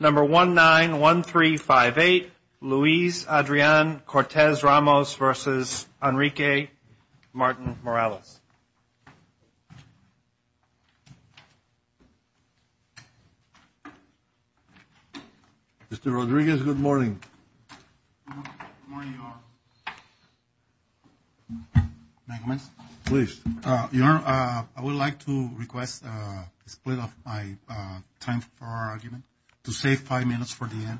Number 191358, Luis Adrian Cortes-Ramos v. Enrique Martin-Morales. Mr. Rodriguez, good morning. Good morning, Your Honor. May I come in? Please. Your Honor, I would like to request a split of my time for argument to save five minutes for the end.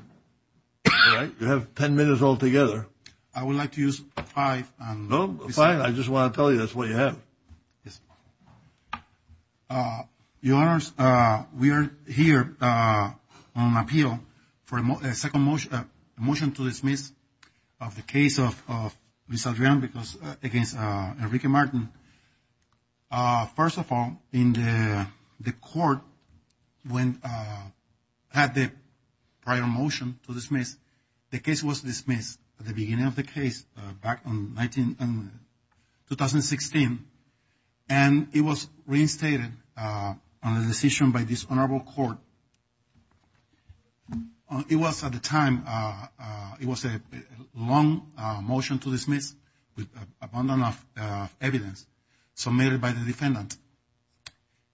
All right. You have ten minutes altogether. I would like to use five. No, five. I just want to tell you that's what you have. Yes. Your Honors, we are here on appeal for a motion to dismiss of the case of Luis Adrian against Enrique Martin. First of all, the court had the prior motion to dismiss. The case was dismissed at the beginning of the case back in 2016, and it was reinstated on a decision by this honorable court. It was at the time, it was a long motion to dismiss with abundant enough evidence submitted by the defendant.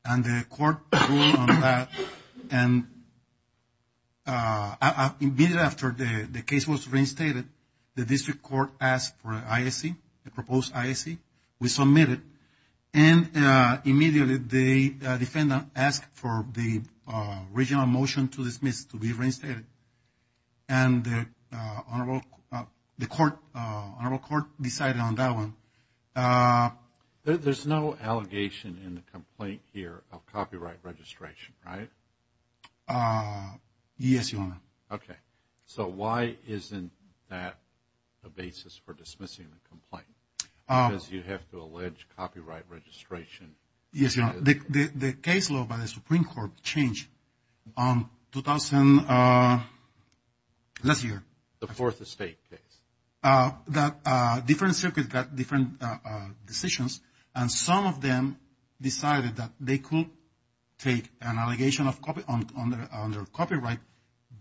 And the court ruled on that. And immediately after the case was reinstated, the district court asked for an ISC, a proposed ISC. We submitted. And immediately the defendant asked for the original motion to dismiss to be reinstated. And the honorable court decided on that one. There's no allegation in the complaint here of copyright registration, right? Yes, Your Honor. Okay. So why isn't that a basis for dismissing the complaint? Because you have to allege copyright registration. Yes, Your Honor. The case law by the Supreme Court changed on 2000, last year. The Fourth Estate case. Different circuits got different decisions. And some of them decided that they could take an allegation on their copyright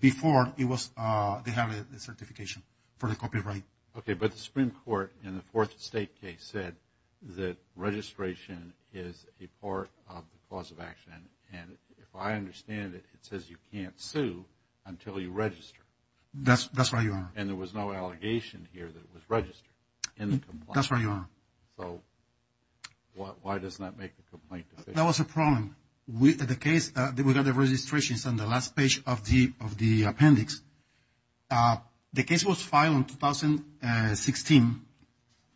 before they had a certification for the copyright. Okay. But the Supreme Court in the Fourth Estate case said that registration is a part of the cause of action. And if I understand it, it says you can't sue until you register. That's right, Your Honor. And there was no allegation here that it was registered in the complaint. That's right, Your Honor. So why doesn't that make the complaint? That was a problem. The case, we got the registrations on the last page of the appendix. The case was filed in 2016.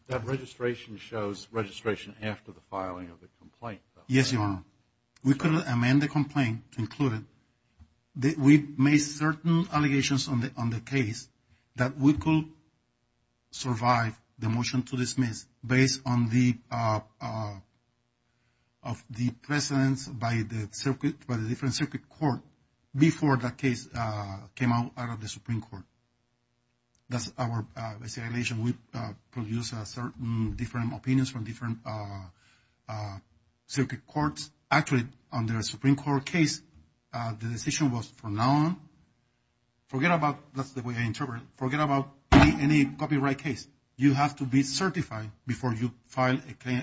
That registration shows registration after the filing of the complaint, though. Yes, Your Honor. We couldn't amend the complaint to include it. We made certain allegations on the case that we could survive the motion to dismiss based on the presence by the circuit, by the different circuit court before the case came out of the Supreme Court. That's our isolation. We produced certain different opinions from different circuit courts. Actually, on the Supreme Court case, the decision was from now on, forget about, that's the way I interpret it, forget about any copyright case. You have to be certified before you file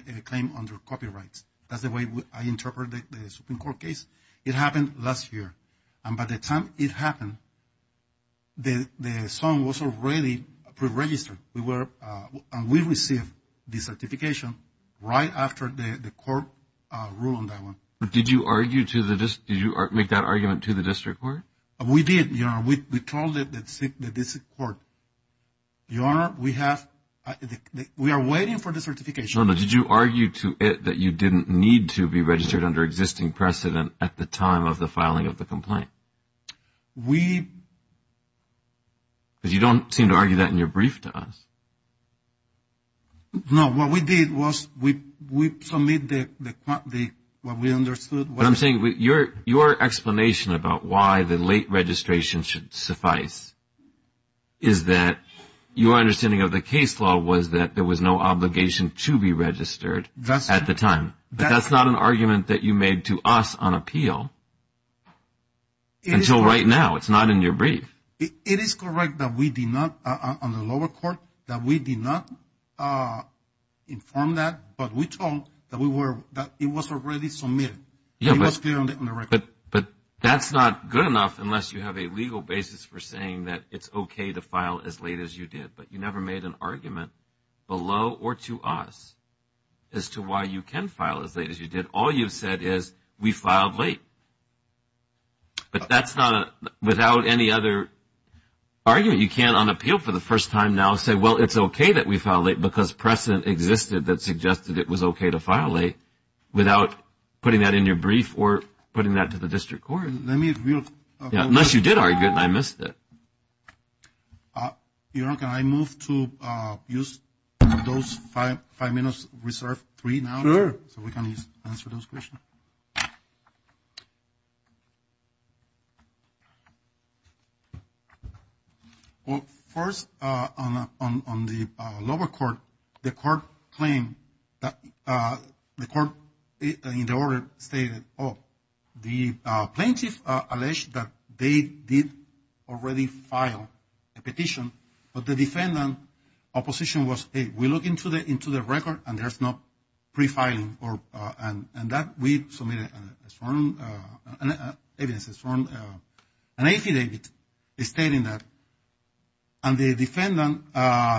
a claim under copyrights. That's the way I interpret the Supreme Court case. It happened last year. And by the time it happened, the song was already pre-registered. We received the certification right after the court ruled on that one. Did you make that argument to the district court? We did, Your Honor. We told the district court, Your Honor, we are waiting for the certification. Did you argue to it that you didn't need to be registered under existing precedent at the time of the filing of the complaint? We. Because you don't seem to argue that in your brief to us. No, what we did was we submitted what we understood. What I'm saying, your explanation about why the late registration should suffice is that your understanding of the case law was that there was no obligation to be registered at the time. But that's not an argument that you made to us on appeal until right now. It's not in your brief. It is correct that we did not, on the lower court, that we did not inform that, but we told that it was already submitted. It was clear on the record. But that's not good enough unless you have a legal basis for saying that it's okay to file as late as you did. But you never made an argument below or to us as to why you can file as late as you did. All you've said is we filed late. But that's not without any other argument. You can't on appeal for the first time now say, well, it's okay that we filed late because precedent existed that suggested it was okay to file late without putting that in your brief or putting that to the district court. Let me review. Unless you did argue it and I missed it. Yaron, can I move to use those five minutes reserved three now? Sure. So we can answer those questions. Well, first, on the lower court, the court claimed that the court in the order stated, oh, the plaintiff alleged that they did already file a petition. But the defendant opposition was, hey, we look into the record and there's no pre-filing. And that we submitted as evidence from an affidavit stating that. And the defendant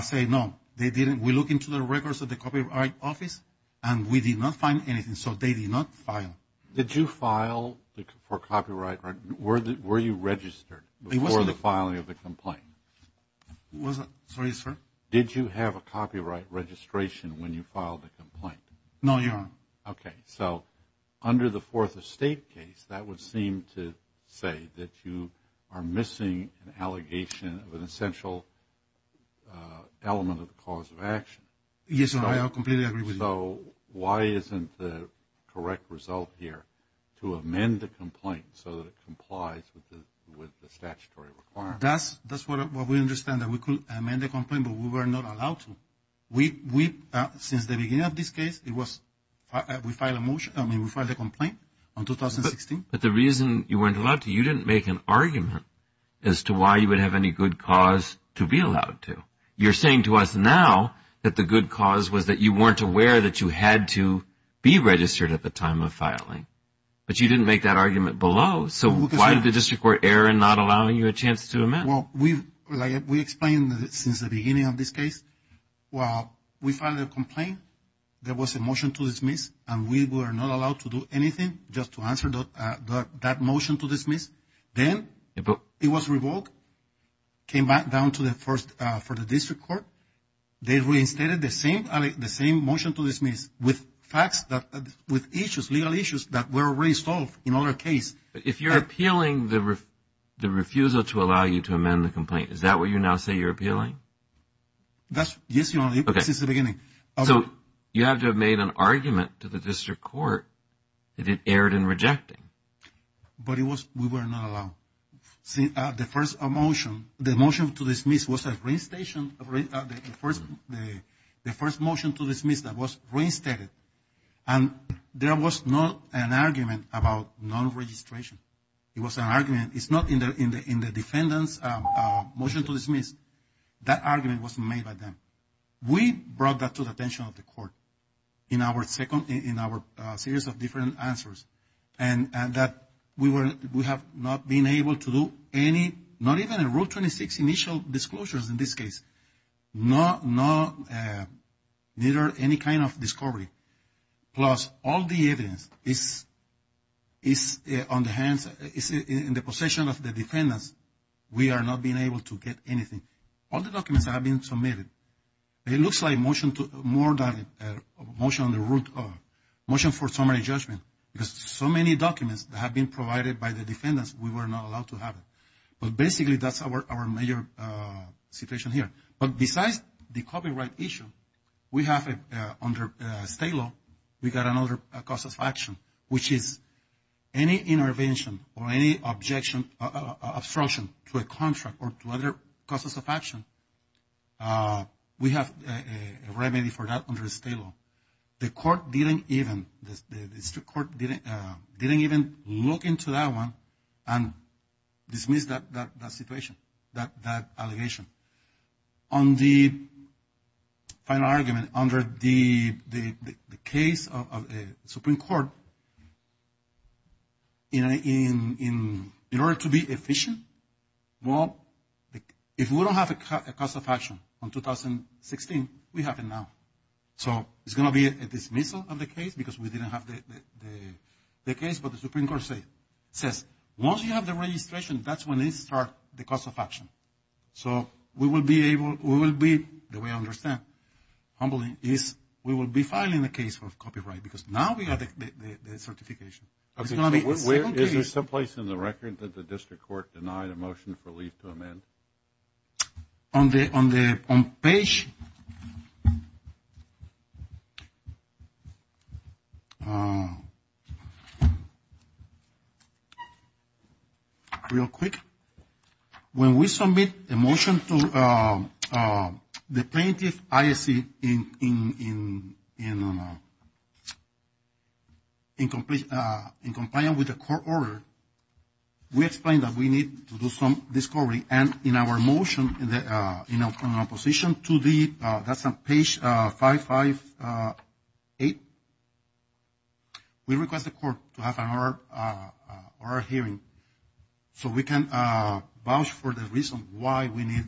said, no, they didn't. We look into the records of the Copyright Office and we did not find anything. So they did not file. Did you file for copyright? Were you registered before the filing of the complaint? Sorry, sir? Did you have a copyright registration when you filed the complaint? No, Yaron. Okay. So under the Fourth Estate case, that would seem to say that you are missing an allegation of an essential element of the cause of action. Yes, sir. I completely agree with you. So why isn't the correct result here to amend the complaint so that it complies with the statutory requirements? That's what we understand, that we could amend the complaint, but we were not allowed to. We, since the beginning of this case, we filed a complaint in 2016. But the reason you weren't allowed to, you didn't make an argument as to why you would have any good cause to be allowed to. You're saying to us now that the good cause was that you weren't aware that you had to be registered at the time of filing. But you didn't make that argument below. So why did the District Court, Aaron, not allow you a chance to amend? Well, we explained since the beginning of this case. Well, we filed a complaint. There was a motion to dismiss and we were not allowed to do anything just to answer that motion to dismiss. Then it was revoked, came back down to the first for the District Court. They reinstated the same motion to dismiss with facts, with issues, legal issues that were already solved in other cases. If you're appealing the refusal to allow you to amend the complaint, is that what you now say you're appealing? Yes, Your Honor, since the beginning. So you have to have made an argument to the District Court that it erred in rejecting. But we were not allowed. The motion to dismiss was the first motion to dismiss that was reinstated. And there was not an argument about non-registration. It was an argument. It's not in the defendant's motion to dismiss. That argument was made by them. We brought that to the attention of the Court in our series of different answers. And that we have not been able to do any, not even a Rule 26 initial disclosures in this case. Neither any kind of discovery. Plus, all the evidence is on the hands, is in the possession of the defendants. We are not being able to get anything. All the documents have been submitted. It looks like a motion for summary judgment. Because so many documents have been provided by the defendants. We were not allowed to have it. But basically, that's our major situation here. But besides the copyright issue, we have under state law, we got another cause of action. Which is any intervention or any objection, obstruction to a contract or to other causes of action. We have a remedy for that under state law. The court didn't even, the district court didn't even look into that one and dismiss that situation, that allegation. On the final argument, under the case of a Supreme Court, in order to be efficient, well, if we don't have a cause of action on 2016, we have it now. So, it's going to be a dismissal of the case because we didn't have the case. But the Supreme Court says, once you have the registration, that's when they start the cause of action. So, we will be able, we will be, the way I understand, humbly, is we will be filing a case of copyright. Because now we have the certification. It's going to be a second case. Is there some place in the record that the district court denied a motion for leave to amend? On the, on the, on page. Real quick. When we submit a motion to the plaintiff ISC in, in, in, in compliance with the court order, we explain that we need to do some discovery. And in our motion, in our position to the, that's on page 558, we request the court to have an order, order hearing. So, we can vouch for the reason why we need.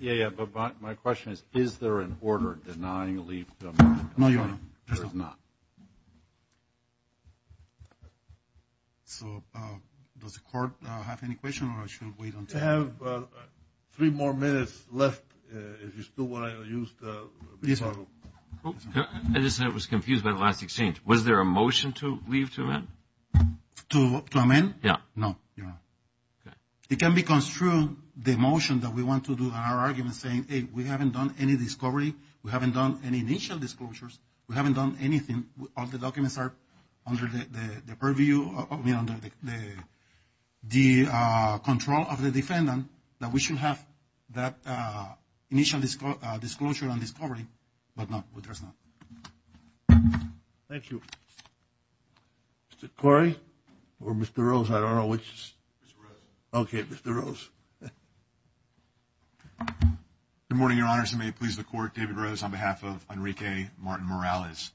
Yeah, yeah. But my question is, is there an order denying a leave to amend? No, Your Honor. There is not. So, does the court have any questions, or should we wait until? We have three more minutes left. If you still want to use the rebuttal. I just was confused by the last exchange. Was there a motion to leave to amend? To amend? Yeah. No, Your Honor. Okay. It can be construed, the motion that we want to do, our argument saying, hey, we haven't done any discovery. We haven't done any initial disclosures. We haven't done anything. All the documents are under the purview, I mean, under the control of the defendant, that we should have that initial disclosure and discovery, but no, there's not. Thank you. Mr. Corey or Mr. Rose, I don't know which. Mr. Rose. Okay, Mr. Rose. Good morning, Your Honor. May it please the Court, David Rose on behalf of Enrique Martin Morales.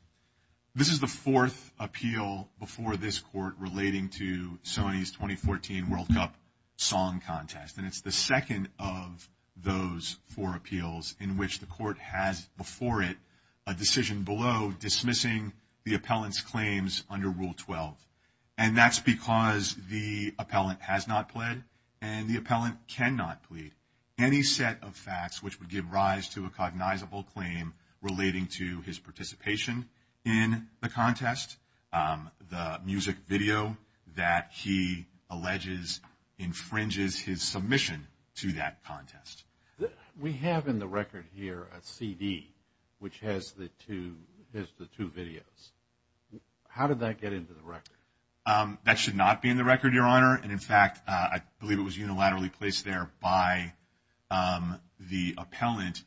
This is the fourth appeal before this Court relating to Sony's 2014 World Cup Song Contest, and it's the second of those four appeals in which the Court has before it a decision below dismissing the appellant's claims under Rule 12, and that's because the appellant has not pled, and the appellant cannot plead any set of facts which would give rise to a cognizable claim relating to his participation in the contest. The music video that he alleges infringes his submission to that contest. We have in the record here a CD which has the two videos. How did that get into the record? That should not be in the record, Your Honor. And, in fact, I believe it was unilaterally placed there by the appellant.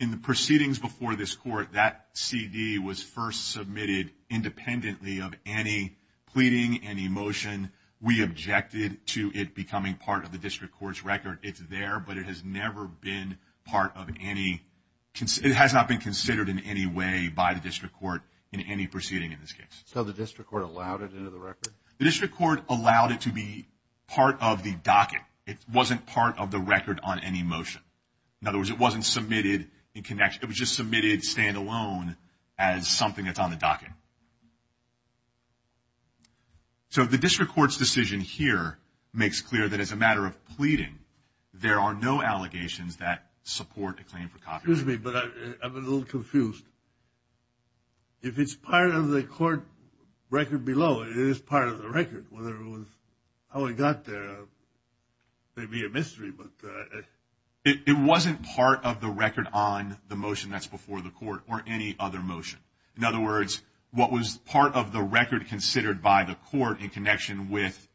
In the proceedings before this Court, that CD was first submitted independently of any pleading, any motion. We objected to it becoming part of the district court's record. It's there, but it has never been part of any, it has not been considered in any way by the district court in any proceeding in this case. So the district court allowed it into the record? The district court allowed it to be part of the docket. It wasn't part of the record on any motion. In other words, it wasn't submitted in connection. It was just submitted standalone as something that's on the docket. So the district court's decision here makes clear that as a matter of pleading, there are no allegations that support a claim for copyright. Excuse me, but I'm a little confused. If it's part of the court record below, it is part of the record. Whether it was how it got there may be a mystery. It wasn't part of the record on the motion that's before the court or any other motion. In other words, what was part of the record considered by the court in connection with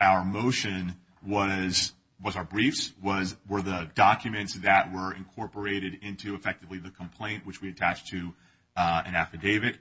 our motion was our briefs, were the documents that were incorporated into effectively the complaint, which we attached to an affidavit.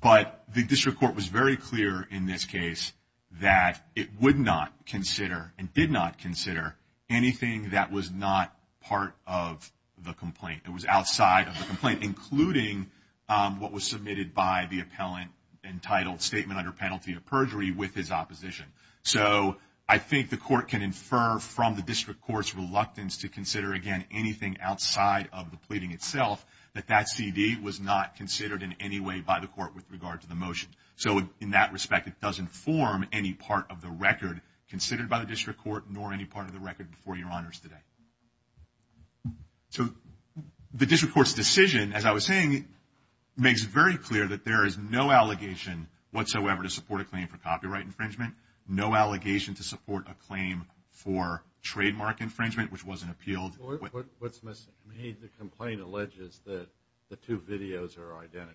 But the district court was very clear in this case that it would not consider and did not consider anything that was not part of the complaint. It was outside of the complaint, including what was submitted by the appellant entitled Statement Under Penalty of Perjury with his opposition. So I think the court can infer from the district court's reluctance to consider, again, anything outside of the pleading itself, that that CD was not considered in any way by the court with regard to the motion. So in that respect, it doesn't form any part of the record considered by the district court nor any part of the record before Your Honors today. So the district court's decision, as I was saying, makes it very clear that there is no allegation whatsoever to support a claim for copyright infringement, no allegation to support a claim for trademark infringement, which wasn't appealed. What's missing? The complaint alleges that the two videos are identical.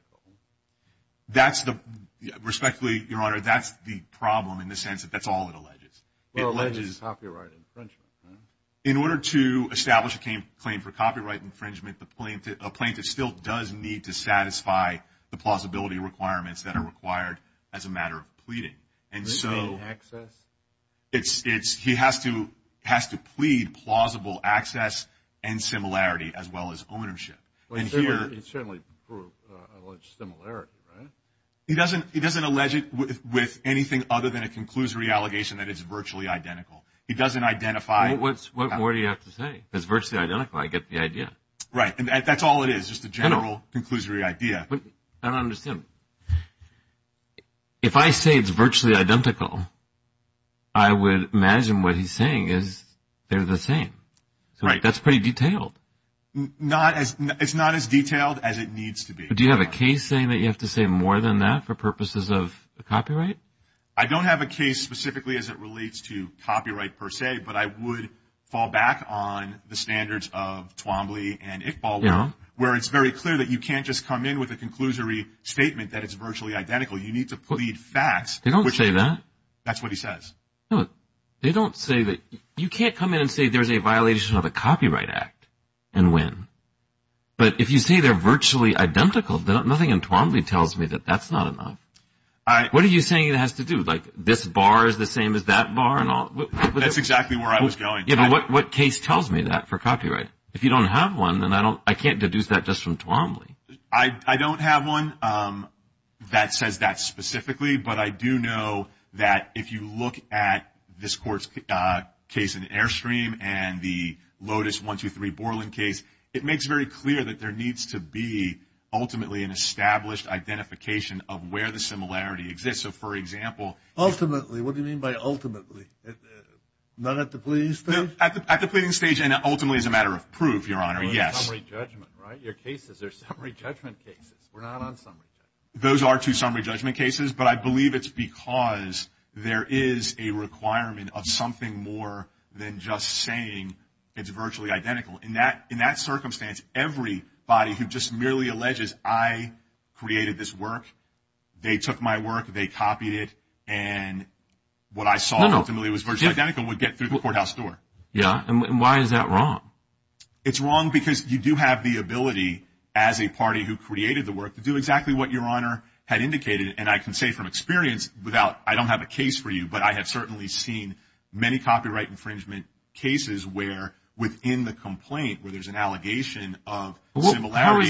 Respectfully, Your Honor, that's the problem in the sense that that's all it alleges. It alleges copyright infringement. In order to establish a claim for copyright infringement, a plaintiff still does need to satisfy the plausibility requirements that are required as a matter of pleading. And so he has to plead plausible access and similarity as well as ownership. It certainly alleged similarity, right? He doesn't allege it with anything other than a conclusory allegation that it's virtually identical. He doesn't identify. What do you have to say? It's virtually identical. I get the idea. Right, and that's all it is, just a general conclusory idea. I don't understand. If I say it's virtually identical, I would imagine what he's saying is they're the same. That's pretty detailed. It's not as detailed as it needs to be. Do you have a case saying that you have to say more than that for purposes of copyright? I don't have a case specifically as it relates to copyright per se, but I would fall back on the standards of Twombly and Iqbal where it's very clear that you can't just come in with a conclusory statement that it's virtually identical. You need to plead facts. They don't say that. That's what he says. They don't say that. You can't come in and say there's a violation of a copyright act and win. But if you say they're virtually identical, nothing in Twombly tells me that that's not enough. What are you saying it has to do? Like this bar is the same as that bar? That's exactly where I was going. What case tells me that for copyright? If you don't have one, then I can't deduce that just from Twombly. I don't have one that says that specifically, but I do know that if you look at this court's case in Airstream and the Lotus 1-2-3 Borland case, it makes very clear that there needs to be ultimately an established identification of where the similarity exists. Ultimately? What do you mean by ultimately? Not at the pleading stage? At the pleading stage and ultimately as a matter of proof, Your Honor, yes. Summary judgment, right? Your cases are summary judgment cases. We're not on summary judgment. Those are two summary judgment cases, but I believe it's because there is a requirement of something more than just saying it's virtually identical. In that circumstance, everybody who just merely alleges I created this work, they took my work, they copied it, and what I saw ultimately was virtually identical would get through the courthouse door. Yeah, and why is that wrong? It's wrong because you do have the ability as a party who created the work to do exactly what Your Honor had indicated, and I can say from experience, I don't have a case for you, but I have certainly seen many copyright infringement cases where within the complaint where there's an allegation of similarity.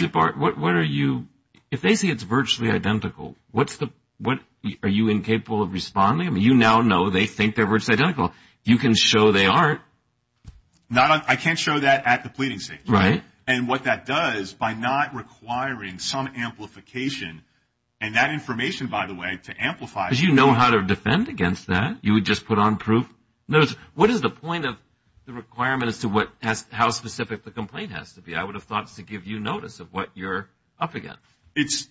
If they see it's virtually identical, are you incapable of responding? I mean, you now know they think they're virtually identical. You can show they aren't. I can't show that at the pleading stage. Right. And what that does by not requiring some amplification, and that information, by the way, to amplify. Because you know how to defend against that. You would just put on proof. What is the point of the requirement as to how specific the complaint has to be? I would have thought to give you notice of what you're up against.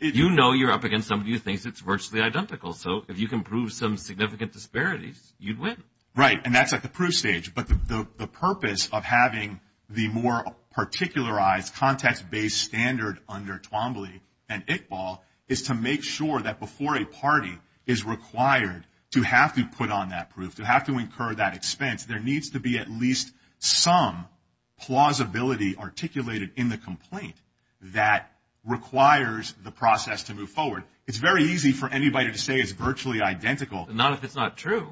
You know you're up against somebody who thinks it's virtually identical. So if you can prove some significant disparities, you'd win. Right, and that's at the proof stage. But the purpose of having the more particularized context-based standard under Twombly and Iqbal is to make sure that before a party is required to have to put on that proof, to have to incur that expense, there needs to be at least some plausibility articulated in the complaint that requires the process to move forward. It's very easy for anybody to say it's virtually identical. Not if it's not true.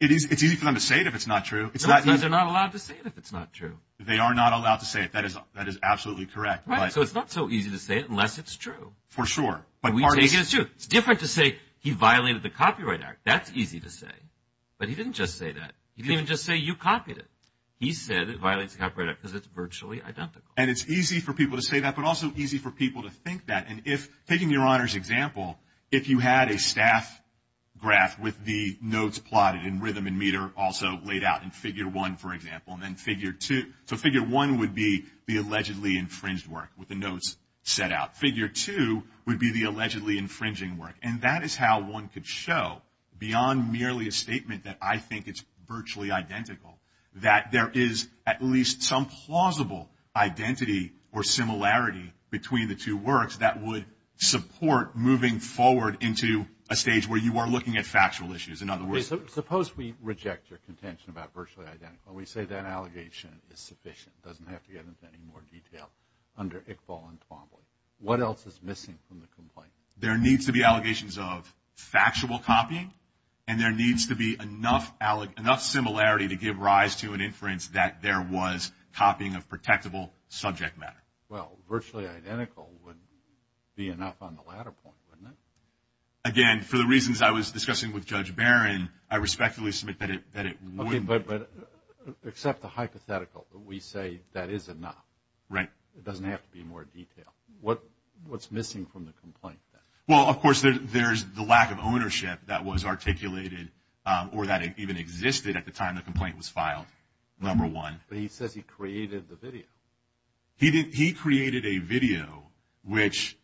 It's easy for them to say it if it's not true. They're not allowed to say it if it's not true. They are not allowed to say it. That is absolutely correct. Right, so it's not so easy to say it unless it's true. For sure. It's different to say he violated the Copyright Act. That's easy to say. But he didn't just say that. He didn't just say you copied it. He said it violates the Copyright Act because it's virtually identical. And it's easy for people to say that but also easy for people to think that. And if, taking your Honor's example, if you had a staff graph with the notes plotted in rhythm and meter also laid out in Figure 1, for example, and then Figure 2. So Figure 1 would be the allegedly infringed work with the notes set out. Figure 2 would be the allegedly infringing work. And that is how one could show, beyond merely a statement that I think it's virtually identical, that there is at least some plausible identity or similarity between the two works that would support moving forward into a stage where you are looking at factual issues, in other words. Suppose we reject your contention about virtually identical. We say that allegation is sufficient. It doesn't have to get into any more detail under Iqbal and Twombly. What else is missing from the complaint? There needs to be allegations of factual copying. And there needs to be enough similarity to give rise to an inference that there was copying of protectable subject matter. Well, virtually identical would be enough on the latter point, wouldn't it? Again, for the reasons I was discussing with Judge Barron, I respectfully submit that it wouldn't. Okay, but except the hypothetical, we say that is enough. Right. It doesn't have to be in more detail. What's missing from the complaint? Well, of course, there's the lack of ownership that was articulated or that even existed at the time the complaint was filed, number one. But he says he created the video. He created a video which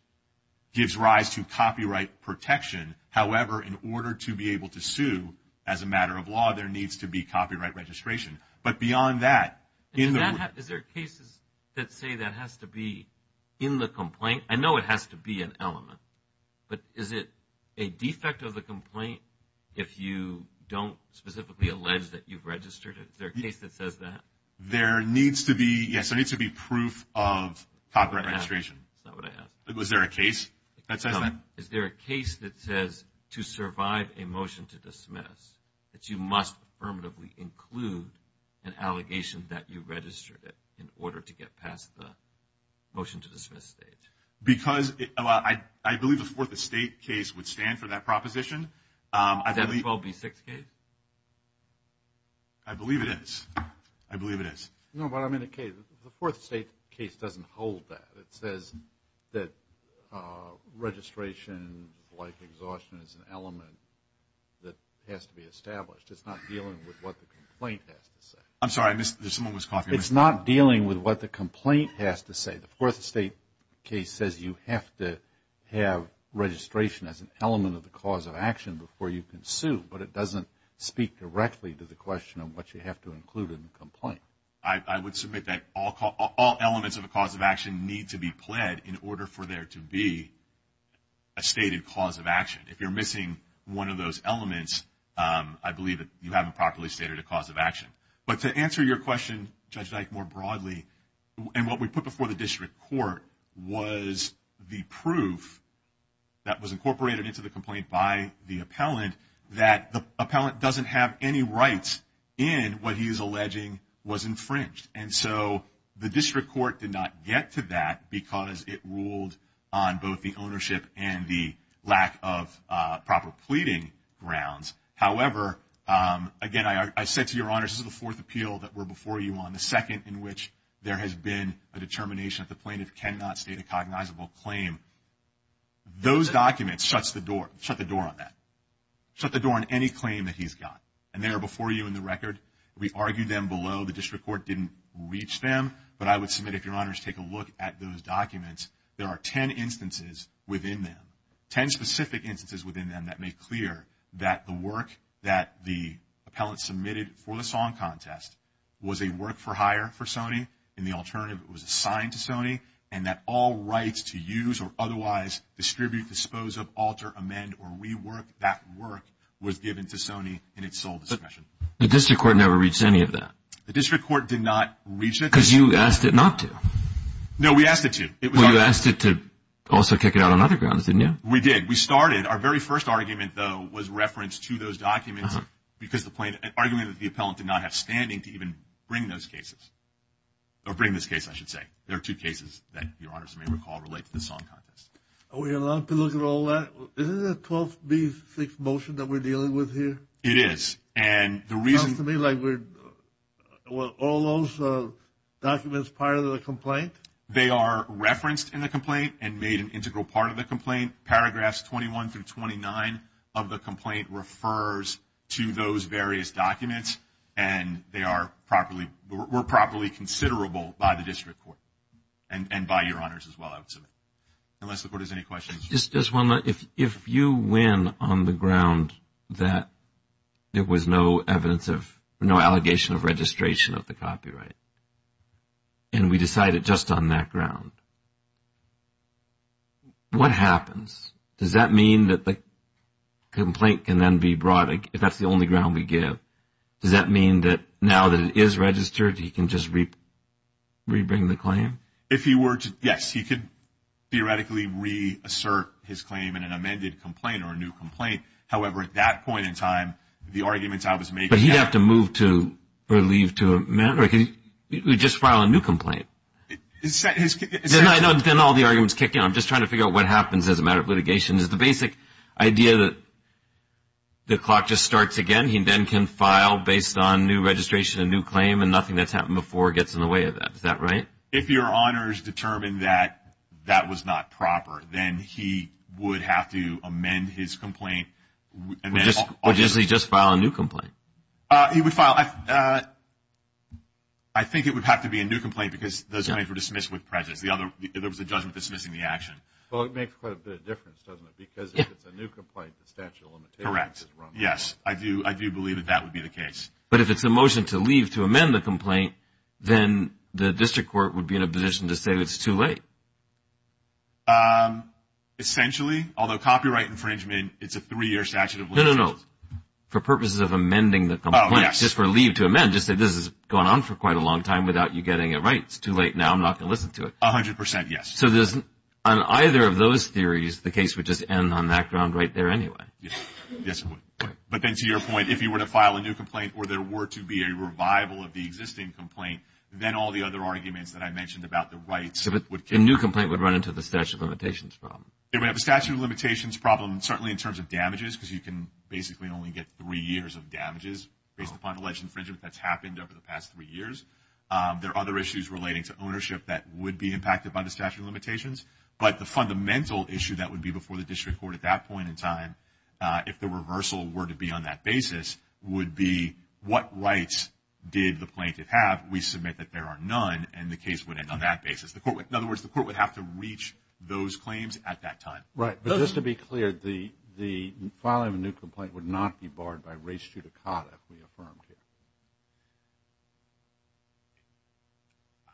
gives rise to copyright protection. However, in order to be able to sue as a matter of law, there needs to be copyright registration. Is there cases that say that has to be in the complaint? I know it has to be an element. But is it a defect of the complaint if you don't specifically allege that you've registered it? Is there a case that says that? Yes, there needs to be proof of copyright registration. That's not what I asked. Was there a case that says that? Is there a case that says to survive a motion to dismiss that you must affirmatively include an allegation that you registered it in order to get past the motion to dismiss stage? Because I believe the Fourth Estate case would stand for that proposition. Is that the 12B6 case? I believe it is. I believe it is. No, but I'm in a case. The Fourth Estate case doesn't hold that. It says that registration, like exhaustion, is an element that has to be established. It's not dealing with what the complaint has to say. I'm sorry. I missed. Someone was coughing. It's not dealing with what the complaint has to say. The Fourth Estate case says you have to have registration as an element of the cause of action before you can sue. But it doesn't speak directly to the question of what you have to include in the complaint. I would submit that all elements of a cause of action need to be pled in order for there to be a stated cause of action. If you're missing one of those elements, I believe that you haven't properly stated a cause of action. But to answer your question, Judge Dyke, more broadly, and what we put before the district court was the proof that was incorporated into the complaint by the appellant that the appellant doesn't have any rights in what he is alleging was infringed. And so the district court did not get to that because it ruled on both the ownership and the lack of proper pleading grounds. However, again, I said to Your Honors, this is the fourth appeal that we're before you on, the second in which there has been a determination that the plaintiff cannot state a cognizable claim. Those documents shut the door on that, shut the door on any claim that he's got. And they are before you in the record. We argued them below. The district court didn't reach them. But I would submit, if Your Honors take a look at those documents, there are 10 instances within them, 10 specific instances within them that make clear that the work that the appellant submitted for the song contest was a work for hire for Sony and the alternative was assigned to Sony and that all rights to use or otherwise distribute, dispose of, alter, amend, or rework that work was given to Sony in its sole discretion. But the district court never reached any of that. The district court did not reach it. Because you asked it not to. No, we asked it to. Well, you asked it to also kick it out on other grounds, didn't you? We did. We started. Our very first argument, though, was reference to those documents because the plaintiff, an argument that the appellant did not have standing to even bring those cases, or bring this case, I should say. There are two cases that Your Honors may recall relate to the song contest. Are we allowed to look at all that? Isn't it a 12B6 motion that we're dealing with here? It is. It sounds to me like all those documents are part of the complaint. They are referenced in the complaint and made an integral part of the complaint. Paragraphs 21 through 29 of the complaint refers to those various documents, and they were properly considerable by the district court and by Your Honors as well, I would submit, unless the Court has any questions. Just one more. If you win on the ground that there was no evidence of no allegation of registration of the copyright and we decide it just on that ground, what happens? Does that mean that the complaint can then be brought, if that's the only ground we give, does that mean that now that it is registered, he can just rebring the claim? If he were to, yes, he could theoretically reassert his claim in an amended complaint or a new complaint. However, at that point in time, the arguments I was making... We just file a new complaint. Then all the arguments kick in. I'm just trying to figure out what happens as a matter of litigation. Is the basic idea that the clock just starts again? He then can file based on new registration and new claim and nothing that's happened before gets in the way of that. Is that right? If Your Honors determined that that was not proper, then he would have to amend his complaint. Would he just file a new complaint? He would file. I think it would have to be a new complaint because those claims were dismissed with prejudice. There was a judgment dismissing the action. Well, it makes quite a bit of difference, doesn't it? Because if it's a new complaint, the statute of limitations is wrong. Correct. Yes. I do believe that that would be the case. But if it's a motion to leave to amend the complaint, then the district court would be in a position to say it's too late. Essentially, although copyright infringement, it's a three-year statute of limitations. No, no, no. For purposes of amending the complaint, just for leave to amend, just say this has gone on for quite a long time without you getting it right. It's too late now. I'm not going to listen to it. A hundred percent, yes. So on either of those theories, the case would just end on that ground right there anyway. Yes, it would. But then to your point, if you were to file a new complaint or there were to be a revival of the existing complaint, then all the other arguments that I mentioned about the rights would come. A new complaint would run into the statute of limitations problem. It would have a statute of limitations problem certainly in terms of damages because you can basically only get three years of damages based upon alleged infringement that's happened over the past three years. There are other issues relating to ownership that would be impacted by the statute of limitations. But the fundamental issue that would be before the district court at that point in time, if the reversal were to be on that basis, would be what rights did the plaintiff have? We submit that there are none, and the case would end on that basis. In other words, the court would have to reach those claims at that time. Right. But just to be clear, the filing of a new complaint would not be barred by res judicata we affirmed here.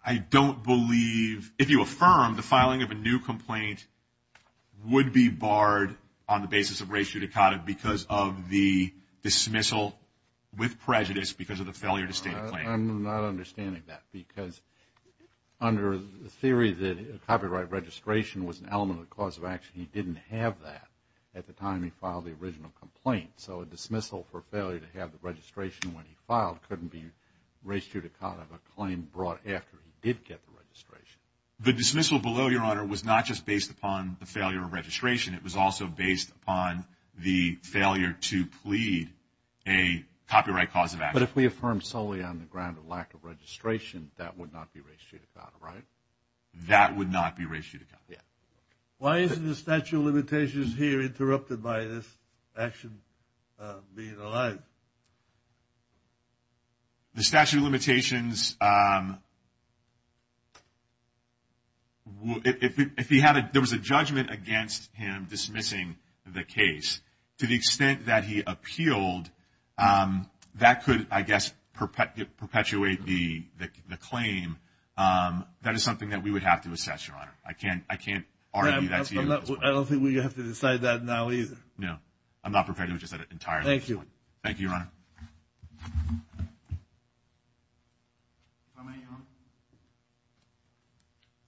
I don't believe if you affirm the filing of a new complaint would be barred on the basis of res judicata because of the dismissal with prejudice because of the failure to state a claim. I'm not understanding that because under the theory that copyright registration was an element of the cause of action, he didn't have that at the time he filed the original complaint. So a dismissal for failure to have the registration when he filed couldn't be res judicata of a claim brought after he did get the registration. The dismissal below, Your Honor, was not just based upon the failure of registration. It was also based upon the failure to plead a copyright cause of action. But if we affirm solely on the ground of lack of registration, that would not be res judicata, right? That would not be res judicata. Why isn't the statute of limitations here interrupted by this action being allowed? The statute of limitations, if there was a judgment against him dismissing the case, to the extent that he appealed, that could, I guess, perpetuate the claim. That is something that we would have to assess, Your Honor. I can't argue that to you at this point. I don't think we have to decide that now either. No. I'm not prepared to just entirely at this point. Thank you. Thank you, Your Honor.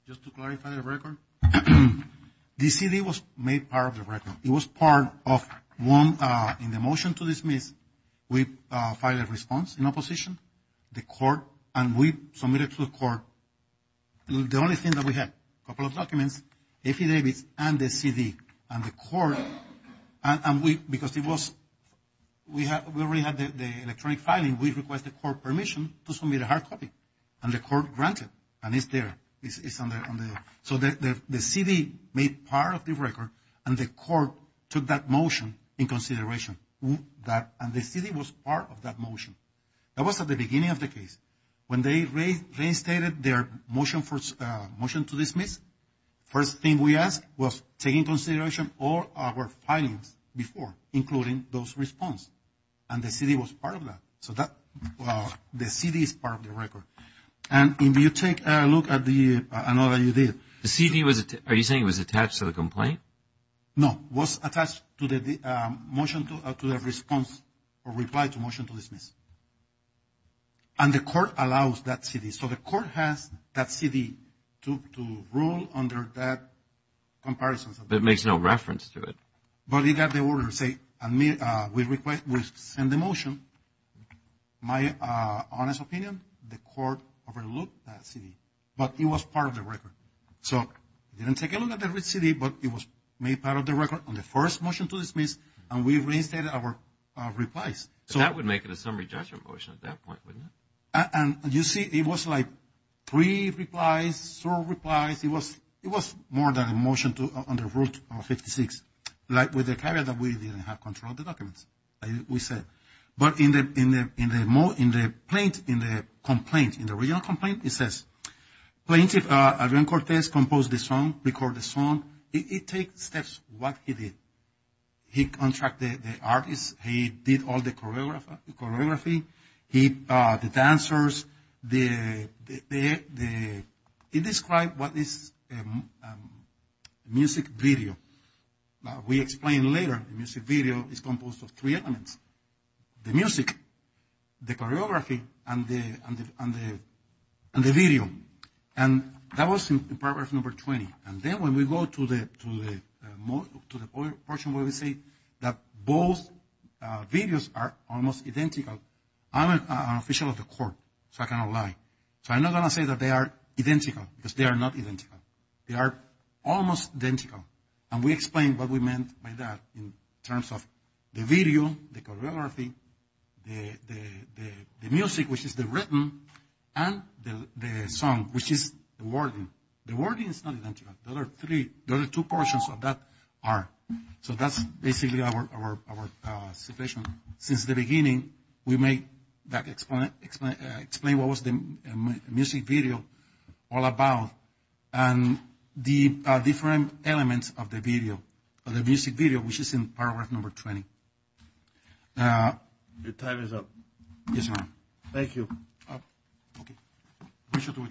Just to clarify the record, the CD was made part of the record. It was part of one in the motion to dismiss. We filed a response in opposition. The court, and we submitted to the court. The only thing that we had, a couple of documents, affidavits and the CD. And the court, and we, because it was, we already had the electronic filing. We requested court permission to submit a hard copy. And the court granted. And it's there. It's on there. So the CD made part of the record. And the court took that motion in consideration. And the CD was part of that motion. That was at the beginning of the case. When they reinstated their motion to dismiss, first thing we asked was taking into consideration all our filings before, including those response. And the CD was part of that. So the CD is part of the record. And if you take a look at the, I know that you did. The CD was, are you saying it was attached to the complaint? No. It was attached to the motion to, to the response or reply to motion to dismiss. And the court allows that CD. So the court has that CD to rule under that comparison. But it makes no reference to it. But we got the order to say, we request, we send the motion. My honest opinion, the court overlooked that CD. But it was part of the record. So they didn't take a look at the CD, but it was made part of the record on the first motion to dismiss. And we reinstated our replies. That would make it a summary judgment motion at that point, wouldn't it? And you see, it was like three replies, four replies. It was more than a motion to, under Rule 56. Like with the caveat that we didn't have control of the documents, like we said. But in the complaint, in the original complaint, it says, Plaintiff Adrian Cortez composed the song, recorded the song. It takes steps what he did. He contracted the artist. He did all the choreography. He, the dancers, the, he described what is music video. We explain later, music video is composed of three elements. The music, the choreography, and the video. And that was in paragraph number 20. And then when we go to the portion where we say that both videos are almost identical, I'm an official of the court, so I cannot lie. So I'm not going to say that they are identical, because they are not identical. They are almost identical. And we explain what we meant by that in terms of the video, the choreography, the music, which is the written, and the song, which is the wording. The wording is not identical. The other three, the other two portions of that are. So that's basically our situation. Since the beginning, we may explain what was the music video all about. And the different elements of the video, of the music video, which is in paragraph number 20. Your time is up. Yes, Your Honor. Thank you. Okay. We shall do a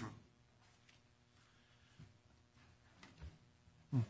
draw.